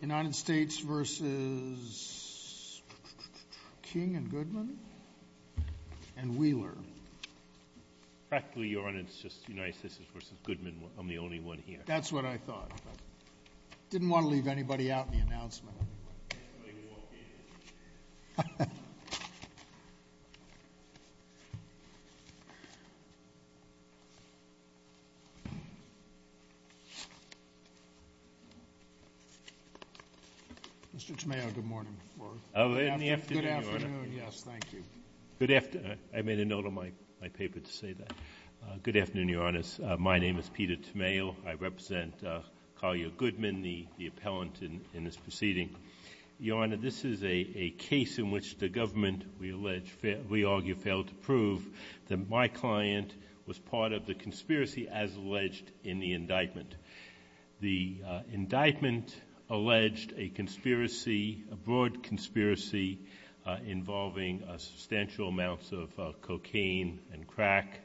United States v. King and Goodman and Wheeler. Practically, Your Honor, it's just United States v. Goodman. I'm the only one here. That's what I thought. I didn't want to leave anybody out in the announcement anyway. Mr. Tamayo, good morning. Good afternoon, Your Honor. Yes, thank you. I made a note on my paper to say that. Good afternoon, Your Honors. My name is Peter Tamayo. I represent Collier Goodman, the appellant in this proceeding. Your Honor, this is a case in which the government, we argue, failed to prove that my client was part of the conspiracy as alleged in the indictment. The indictment alleged a conspiracy, a broad conspiracy, involving substantial amounts of cocaine and crack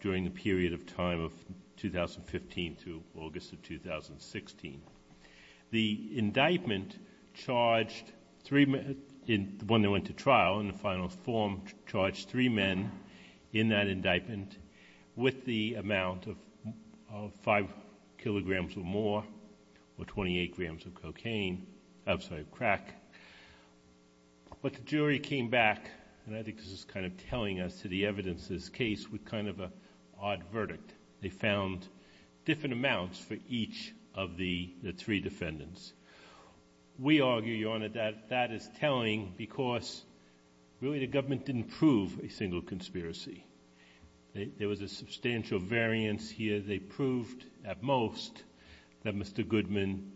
during the period of time of 2015 through August of 2016. The indictment charged three men when they went to trial, and the final form charged three men in that indictment with the amount of 5 kilograms or more or 28 grams of crack. But the jury came back, and I think this is kind of telling us to the evidence of this case, with kind of an odd verdict. They found different amounts for each of the three defendants. We argue, Your Honor, that that is telling because really the government didn't prove a single conspiracy. There was a substantial variance here. They proved at most that Mr. Goodman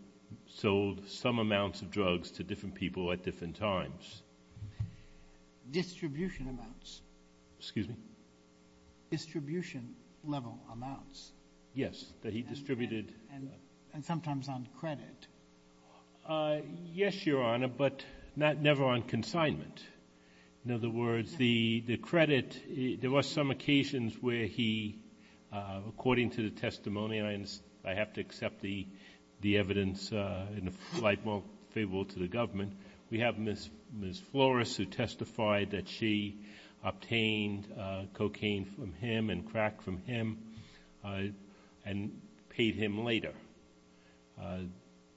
sold some amounts of drugs to different people at different times. Distribution amounts. Excuse me? Distribution-level amounts. Yes, that he distributed. And sometimes on credit. Yes, Your Honor, but never on consignment. In other words, the credit, there was some occasions where he, according to the testimony, and I have to accept the evidence in a slight more favorable to the government, we have Ms. Flores who testified that she obtained cocaine from him and crack from him and paid him later.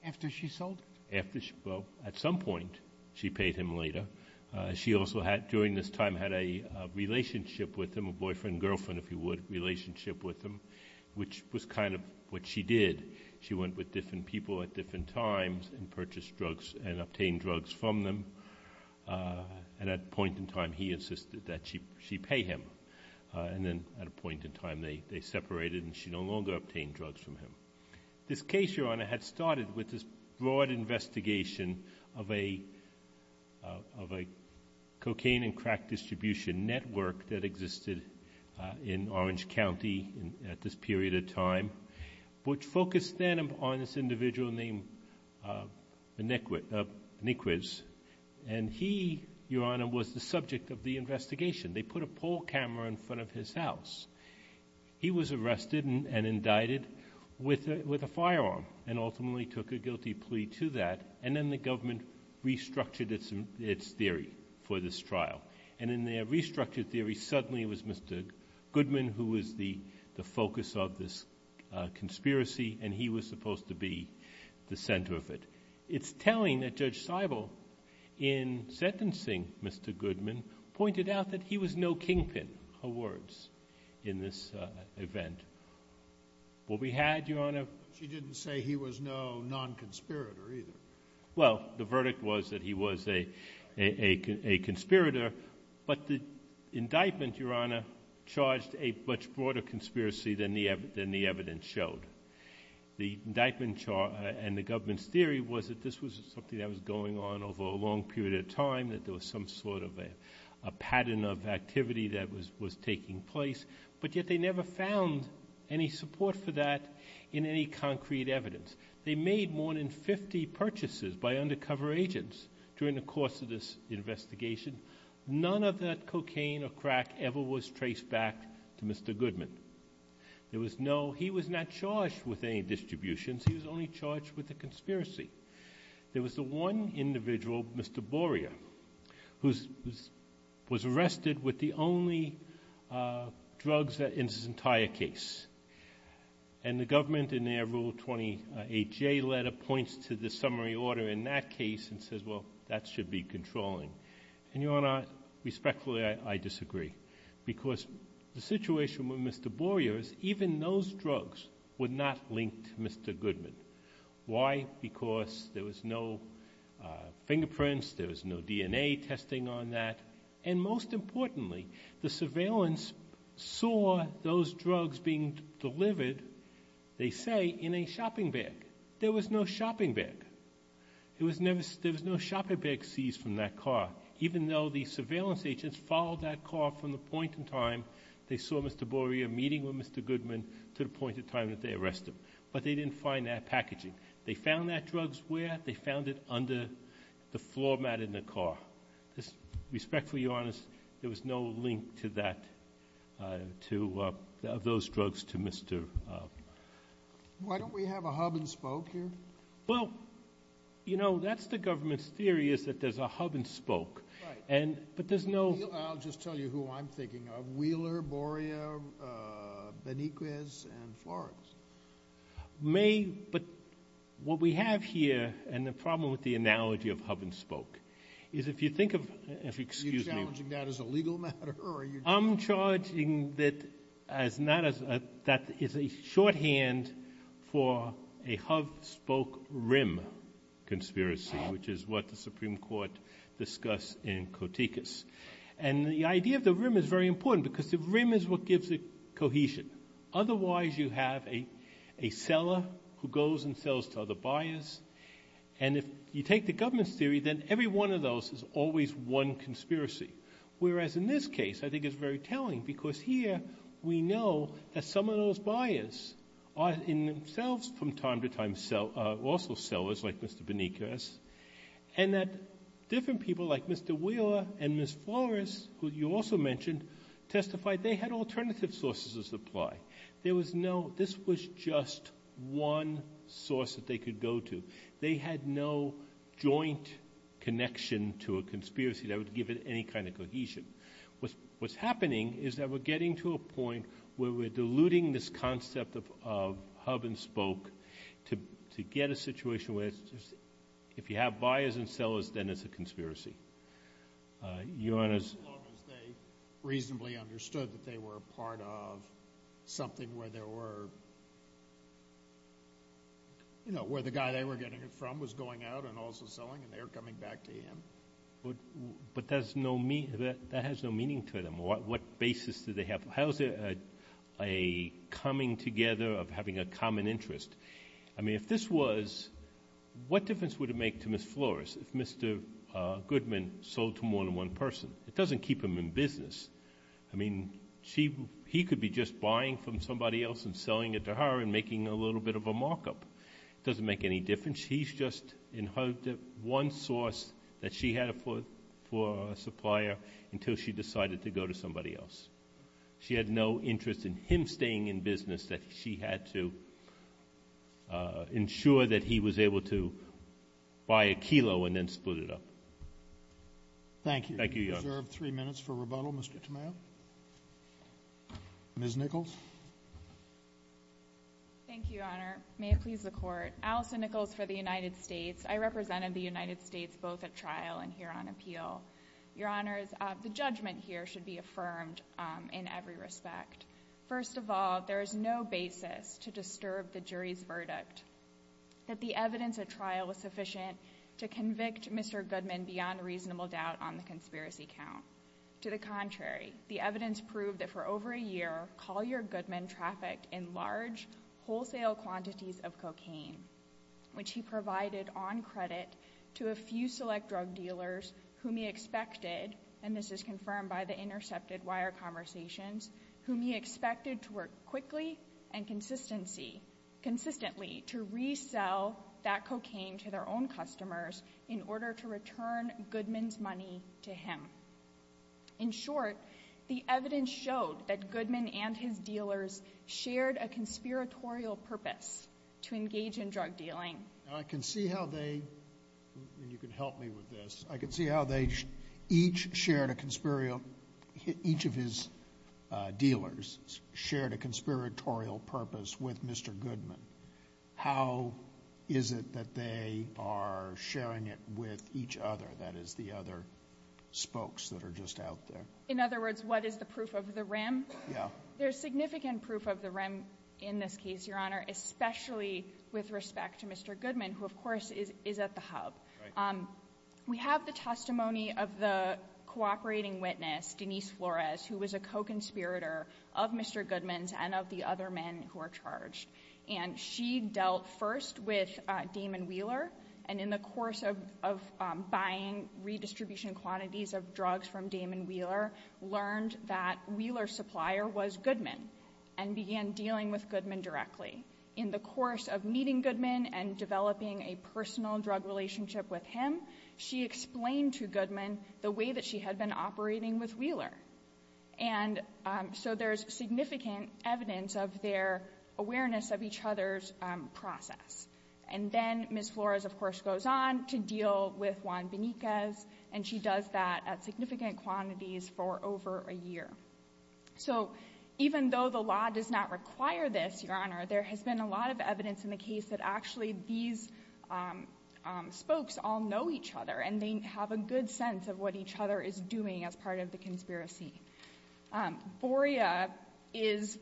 After she sold it? Well, at some point she paid him later. She also during this time had a relationship with him, a boyfriend-girlfriend, if you would, relationship with him, which was kind of what she did. She went with different people at different times and purchased drugs and obtained drugs from them. And at a point in time he insisted that she pay him. And then at a point in time they separated and she no longer obtained drugs from him. This case, Your Honor, had started with this broad investigation of a cocaine and crack distribution network that existed in Orange County at this period of time, which focused then on this individual named Niquis. And he, Your Honor, was the subject of the investigation. They put a poll camera in front of his house. He was arrested and indicted with a firearm and ultimately took a guilty plea to that, and then the government restructured its theory for this trial. And in their restructured theory suddenly it was Mr. Goodman who was the focus of this conspiracy, and he was supposed to be the center of it. It's telling that Judge Seibel, in sentencing Mr. Goodman, pointed out that he was no kingpin, her words, in this event. What we had, Your Honor? She didn't say he was no non-conspirator either. Well, the verdict was that he was a conspirator, but the indictment, Your Honor, charged a much broader conspiracy than the evidence showed. The indictment and the government's theory was that this was something that was going on over a long period of time, that there was some sort of a pattern of activity that was taking place, but yet they never found any support for that in any concrete evidence. They made more than 50 purchases by undercover agents during the course of this investigation. None of that cocaine or crack ever was traced back to Mr. Goodman. He was not charged with any distributions. He was only charged with a conspiracy. There was the one individual, Mr. Borea, who was arrested with the only drugs in his entire case. And the government, in their Rule 28J letter, points to the summary order in that case and says, well, that should be controlling. And, Your Honor, respectfully, I disagree, because the situation with Mr. Borea is even those drugs were not linked to Mr. Goodman. Why? Because there was no fingerprints, there was no DNA testing on that, and most importantly, the surveillance saw those drugs being delivered, they say, in a shopping bag. There was no shopping bag. There was no shopping bag seized from that car, even though the surveillance agents followed that car from the point in time they saw Mr. Borea meeting with Mr. Goodman to the point in time that they arrested him. But they didn't find that packaging. They found that drugs where? They found it under the floor mat in the car. Respectfully, Your Honor, there was no link to that, to those drugs, to Mr. Why don't we have a hub and spoke here? Well, you know, that's the government's theory is that there's a hub and spoke. Right. But there's no – I'll just tell you who I'm thinking of. Wheeler, Borea, Beniquez, and Flores. May, but what we have here and the problem with the analogy of hub and spoke is if you think of – Are you challenging that as a legal matter or are you – I'm charging that as not as – that is a shorthand for a hub spoke rim conspiracy, which is what the Supreme Court discussed in Kotickas. And the idea of the rim is very important because the rim is what gives it cohesion. Otherwise you have a seller who goes and sells to other buyers. And if you take the government's theory, then every one of those is always one conspiracy, whereas in this case I think it's very telling because here we know that some of those buyers are in themselves from time to time also sellers, like Mr. Beniquez, and that different people like Mr. Wheeler and Ms. Flores, who you also mentioned, testified they had alternative sources of supply. There was no – this was just one source that they could go to. They had no joint connection to a conspiracy that would give it any kind of cohesion. What's happening is that we're getting to a point where we're diluting this concept of hub and spoke to get a situation where it's just if you have buyers and sellers, then it's a conspiracy. Your Honor's – As long as they reasonably understood that they were part of something where there were – you know, where the guy they were getting it from was going out and also selling and they were coming back to him. But that has no meaning to them. What basis do they have? How is there a coming together of having a common interest? I mean, if this was – what difference would it make to Ms. Flores if Mr. Goodman sold to more than one person? It doesn't keep him in business. I mean, he could be just buying from somebody else and selling it to her and making a little bit of a markup. It doesn't make any difference. He's just inherited one source that she had for a supplier until she decided to go to somebody else. She had no interest in him staying in business that she had to ensure that he was able to buy a kilo and then split it up. Thank you. Thank you, Your Honor. You deserve three minutes for rebuttal, Mr. Tomeo. Ms. Nichols. Thank you, Your Honor. May it please the Court. Allison Nichols for the United States. I represented the United States both at trial and here on appeal. Your Honors, the judgment here should be affirmed in every respect. First of all, there is no basis to disturb the jury's verdict that the evidence at trial was sufficient to convict Mr. Goodman beyond reasonable doubt on the conspiracy count. To the contrary, the evidence proved that for over a year, Collier Goodman trafficked in large wholesale quantities of cocaine, which he provided on credit to a few select drug dealers whom he expected, and this is confirmed by the intercepted wire conversations, whom he expected to work quickly and consistently to resell that cocaine to their own customers in order to return Goodman's money to him. In short, the evidence showed that Goodman and his dealers shared a conspiratorial purpose to engage in drug dealing. I can see how they, and you can help me with this, I can see how they each shared a conspiratorial, each of his dealers shared a conspiratorial purpose with Mr. Goodman. How is it that they are sharing it with each other, that is the other spokes that are just out there? In other words, what is the proof of the rim? Yeah. There's significant proof of the rim in this case, Your Honor, especially with respect to Mr. Goodman, who of course is at the hub. Right. We have the testimony of the cooperating witness, Denise Flores, who was a co-conspirator of Mr. Goodman's and of the other men who are charged. And she dealt first with Damon Wheeler, and in the course of buying redistribution quantities of drugs from Damon Wheeler, learned that Wheeler's supplier was Goodman and began dealing with Goodman directly. In the course of meeting Goodman and developing a personal drug relationship with him, she explained to Goodman the way that she had been operating with Wheeler. And so there's significant evidence of their awareness of each other's process. And then Ms. Flores, of course, goes on to deal with Juan Benitez, and she does that at significant quantities for over a year. So even though the law does not require this, Your Honor, there has been a lot of evidence in the case that actually these spokes all know each other and they have a good sense of what each other is doing as part of the conspiracy. Boria is,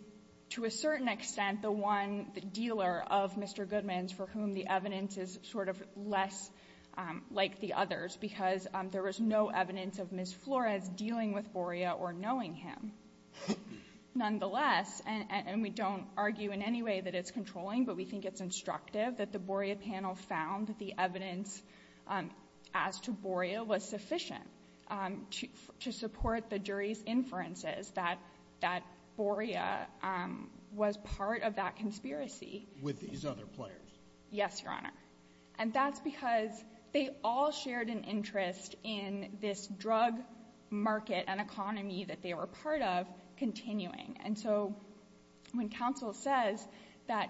to a certain extent, the one, the dealer of Mr. Goodman's for whom the evidence is sort of less like the others, because there was no evidence of Ms. Flores dealing with Boria or knowing him. Nonetheless, and we don't argue in any way that it's controlling, but we think it's instructive that the Boria panel found the evidence as to Boria was sufficient to support the jury's inferences that Boria was part of that conspiracy. With these other players? Yes, Your Honor. And that's because they all shared an interest in this drug market and economy that they were part of continuing. And so when counsel says that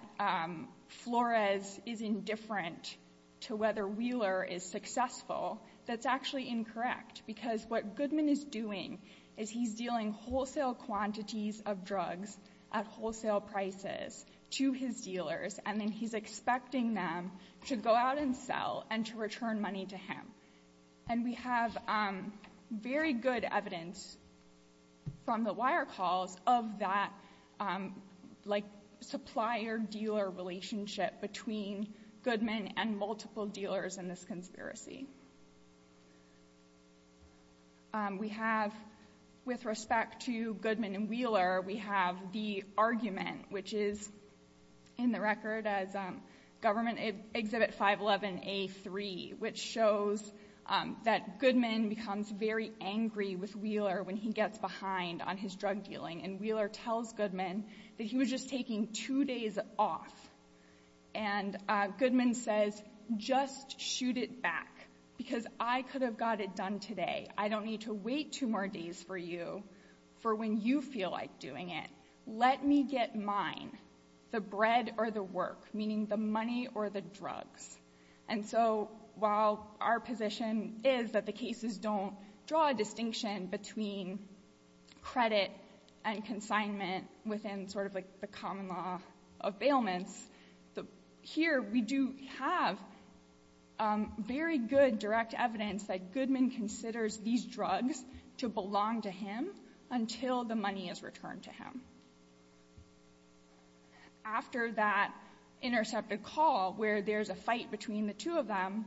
Flores is indifferent to whether Wheeler is successful, that's actually incorrect, because what Goodman is doing is he's dealing wholesale quantities of drugs at wholesale prices to his dealers, and then he's expecting them to go out and sell and to return money to him. And we have very good evidence from the wire calls of that, like, supplier-dealer relationship between Goodman and multiple dealers in this conspiracy. We have, with respect to Goodman and Wheeler, we have the argument, which is in the record as government exhibit 511A3, which shows that Goodman becomes very angry with Wheeler when he gets behind on his drug dealing, and Wheeler tells Goodman that he was just taking two days off. And Goodman says, just shoot it back, because I could have got it done today. I don't need to wait two more days for you for when you feel like doing it. Let me get mine, the bread or the work, meaning the money or the drugs. And so while our position is that the cases don't draw a distinction between credit and consignment within sort of, like, the common law of bailments, here we do have very good direct evidence that Goodman considers these drugs to belong to him until the money is returned to him. After that intercepted call where there's a fight between the two of them,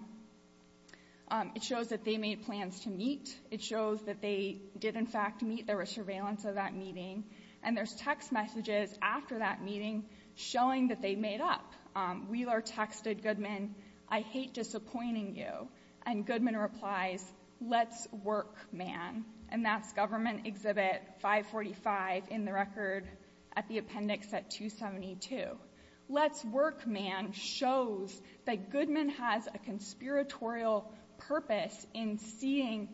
it shows that they made plans to meet. It shows that they did, in fact, meet. There was surveillance of that meeting. And there's text messages after that meeting showing that they made up. Wheeler texted Goodman, I hate disappointing you, and Goodman replies, let's work, man. And that's Government Exhibit 545 in the record at the appendix at 272. Let's work, man, shows that Goodman has a conspiratorial purpose in seeing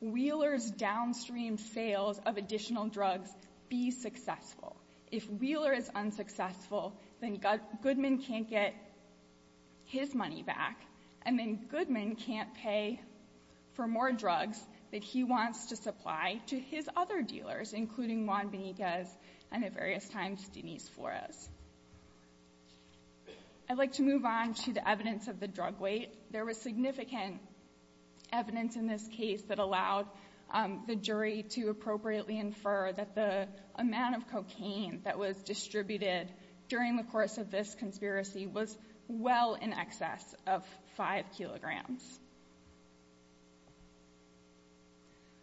Wheeler's downstream sales of additional drugs be successful. If Wheeler is unsuccessful, then Goodman can't get his money back, and then Goodman can't pay for more drugs that he wants to supply to his other dealers, including Juan Benitez and, at various times, Denise Flores. I'd like to move on to the evidence of the drug weight. There was significant evidence in this case that allowed the jury to appropriately infer that the amount of cocaine that was distributed during the course of this conspiracy was well in excess of 5 kilograms.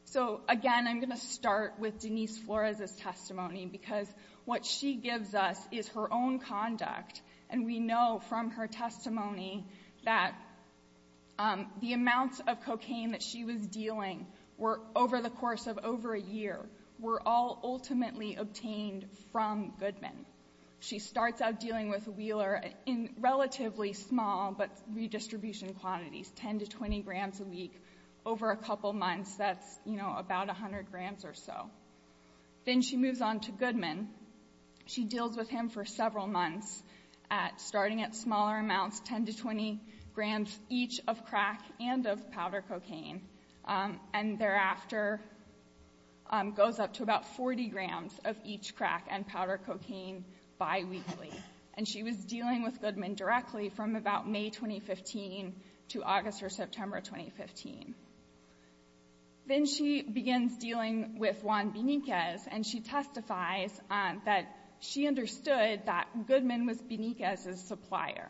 So, again, I'm going to start with Denise Flores' testimony, because what she gives us is her own conduct, and we know from her testimony that the amounts of cocaine that she was dealing over the course of over a year were all ultimately obtained from Goodman. She starts out dealing with Wheeler in relatively small, but redistribution quantities, 10 to 20 grams a week over a couple months. That's, you know, about 100 grams or so. Then she moves on to Goodman. She deals with him for several months, starting at smaller amounts, 10 to 20 grams each of crack and of powder cocaine, and thereafter goes up to about 40 grams of each crack and powder cocaine biweekly. And she was dealing with Goodman directly from about May 2015 to August or September 2015. Then she begins dealing with Juan Benitez, and she testifies that she understood that Goodman was Benitez's supplier.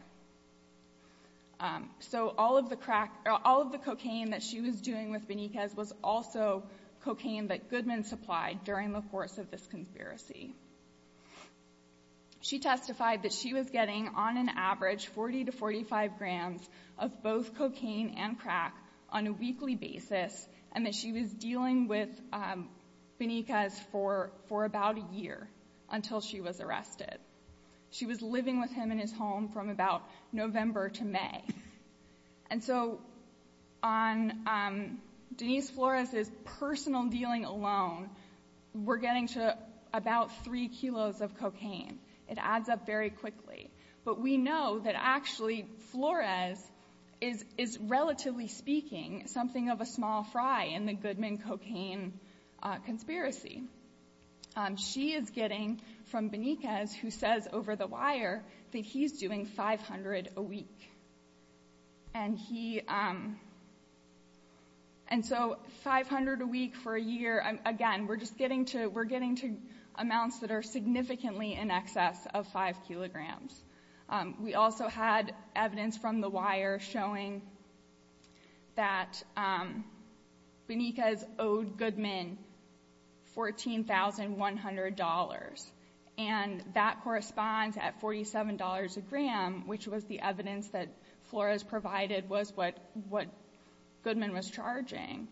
So all of the cocaine that she was doing with Benitez was also cocaine that Goodman supplied during the course of this conspiracy. She testified that she was getting on an average 40 to 45 grams of both cocaine and crack on a weekly basis, and that she was dealing with Benitez for about a year until she was arrested. She was living with him in his home from about November to May. And so on Denise Flores' personal dealing alone, we're getting to about 3 kilos of cocaine. It adds up very quickly. But we know that actually Flores is, relatively speaking, something of a small fry in the Goodman cocaine conspiracy. She is getting from Benitez, who says over the wire that he's doing 500 a week. And so 500 a week for a year, again, we're getting to amounts that are significantly in excess of 5 kilograms. We also had evidence from the wire showing that Benitez owed Goodman $14,100, and that corresponds at $47 a gram, which was the evidence that Flores provided was what Goodman was charging.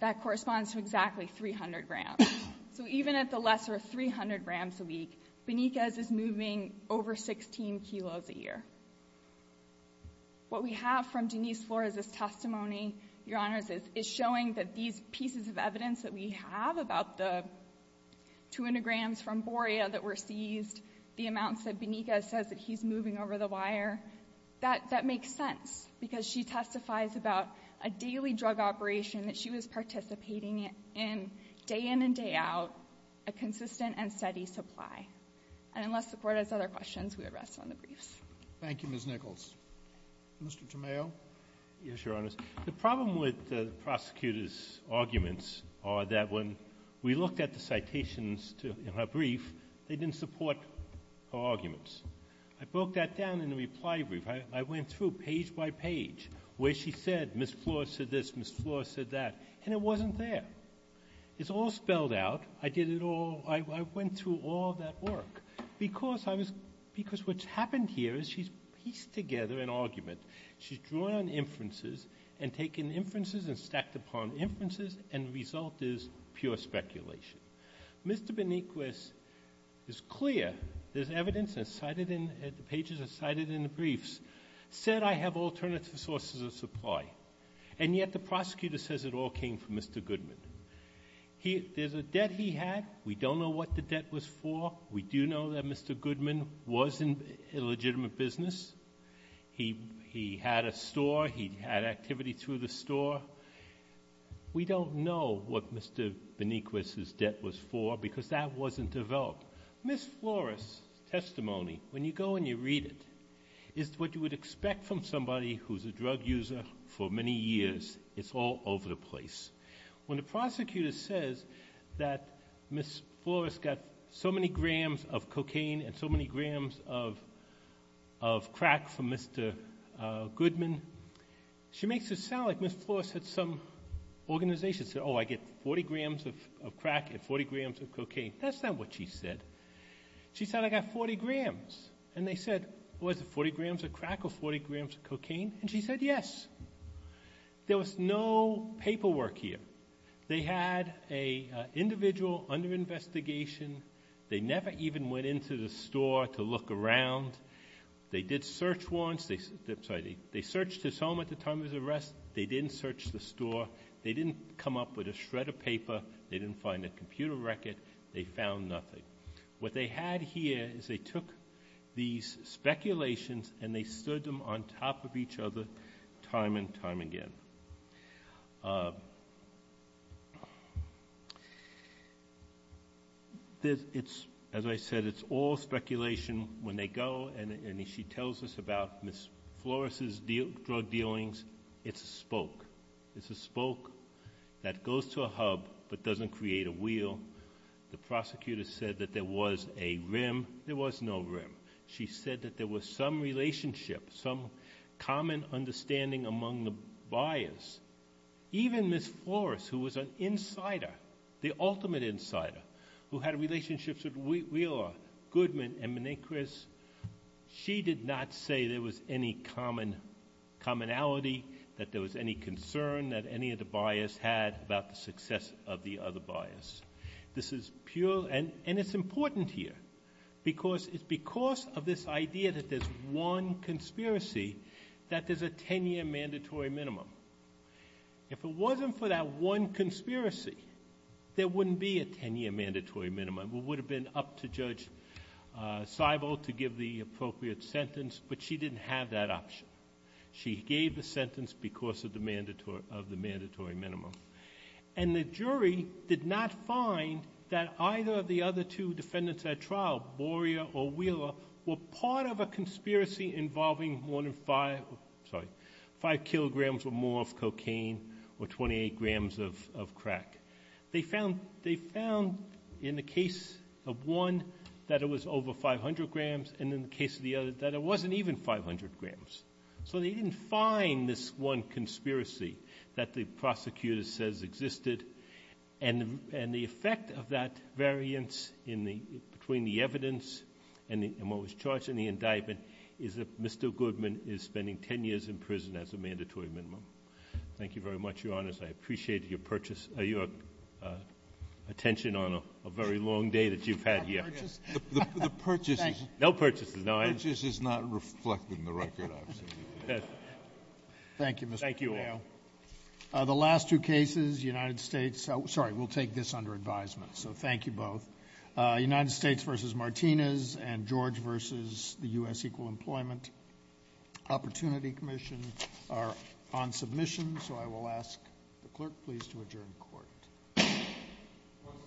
That corresponds to exactly 300 grams. So even at the lesser of 300 grams a week, Benitez is moving over 16 kilos a year. What we have from Denise Flores' testimony, Your Honors, is showing that these pieces of evidence that we have about the 200 grams from Boria that were seized, the amounts that Benitez says that he's moving over the wire, that makes sense, because she testifies about a daily drug operation that she was participating in day in and day out, a consistent and steady supply. And unless the Court has other questions, we would rest on the briefs. Thank you, Ms. Nichols. Mr. Tomeo. Yes, Your Honors. The problem with the prosecutor's arguments are that when we looked at the citations in her brief, they didn't support her arguments. I broke that down in the reply brief. I went through page by page where she said Ms. Flores said this, Ms. Flores said that, and it wasn't there. It's all spelled out. I did it all. I went through all that work because I was — because what's happened here is she's pieced together an argument. She's drawn inferences and taken inferences and stacked upon inferences, and the result is pure speculation. Mr. Beniquis is clear. There's evidence that's cited in — the pages are cited in the briefs, said I have alternative sources of supply, and yet the prosecutor says it all came from Mr. Goodman. There's a debt he had. We don't know what the debt was for. We do know that Mr. Goodman was in a legitimate business. He had a store. He had activity through the store. We don't know what Mr. Beniquis' debt was for because that wasn't developed. Ms. Flores' testimony, when you go and you read it, is what you would expect from somebody who's a drug user for many years. It's all over the place. When the prosecutor says that Ms. Flores got so many grams of cocaine and so many grams of crack from Mr. Goodman, she makes it sound like Ms. Flores had some organization that said, oh, I get 40 grams of crack and 40 grams of cocaine. That's not what she said. She said, I got 40 grams. And they said, was it 40 grams of crack or 40 grams of cocaine? And she said, yes. There was no paperwork here. They had an individual under investigation. They never even went into the store to look around. They did search once. They searched his home at the time of his arrest. They didn't search the store. They didn't come up with a shred of paper. They didn't find a computer record. They found nothing. What they had here is they took these speculations and they stood them on top of each other time and time again. As I said, it's all speculation when they go and she tells us about Ms. Flores' drug dealings. It's a spoke. It's a spoke that goes to a hub but doesn't create a wheel. The prosecutor said that there was a rim. There was no rim. She said that there was some relationship, some common understanding among the buyers. Even Ms. Flores, who was an insider, the ultimate insider, who had relationships with Wheeler, Goodman, and Manicris, she did not say there was any commonality, that there was any concern that any of the buyers had about the success of the other buyers. This is pure, and it's important here because it's because of this idea that there's one conspiracy that there's a 10-year mandatory minimum. If it wasn't for that one conspiracy, there wouldn't be a 10-year mandatory minimum. It would have been up to Judge Seibel to give the appropriate sentence, but she didn't have that option. She gave the sentence because of the mandatory minimum. And the jury did not find that either of the other two defendants at trial, Borea or Wheeler, were part of a conspiracy involving more than 5, sorry, 5 kilograms or more of cocaine or 28 grams of crack. They found in the case of one that it was over 500 grams and in the case of the other that it wasn't even 500 grams. So they didn't find this one conspiracy that the prosecutor says existed. And the effect of that variance in the, between the evidence and what was charged in the indictment, is that Mr. Goodman is spending 10 years in prison as a mandatory minimum. Thank you very much, Your Honors. I appreciated your purchase, your attention on a very long day that you've had here. The purchase is not reflected in the record. Thank you. The last two cases, United States, sorry, we'll take this under advisement. So thank you both. United States v. Martinez and George v. the U.S. Equal Employment Opportunity Commission are on submission. So I will ask the clerk please to adjourn court.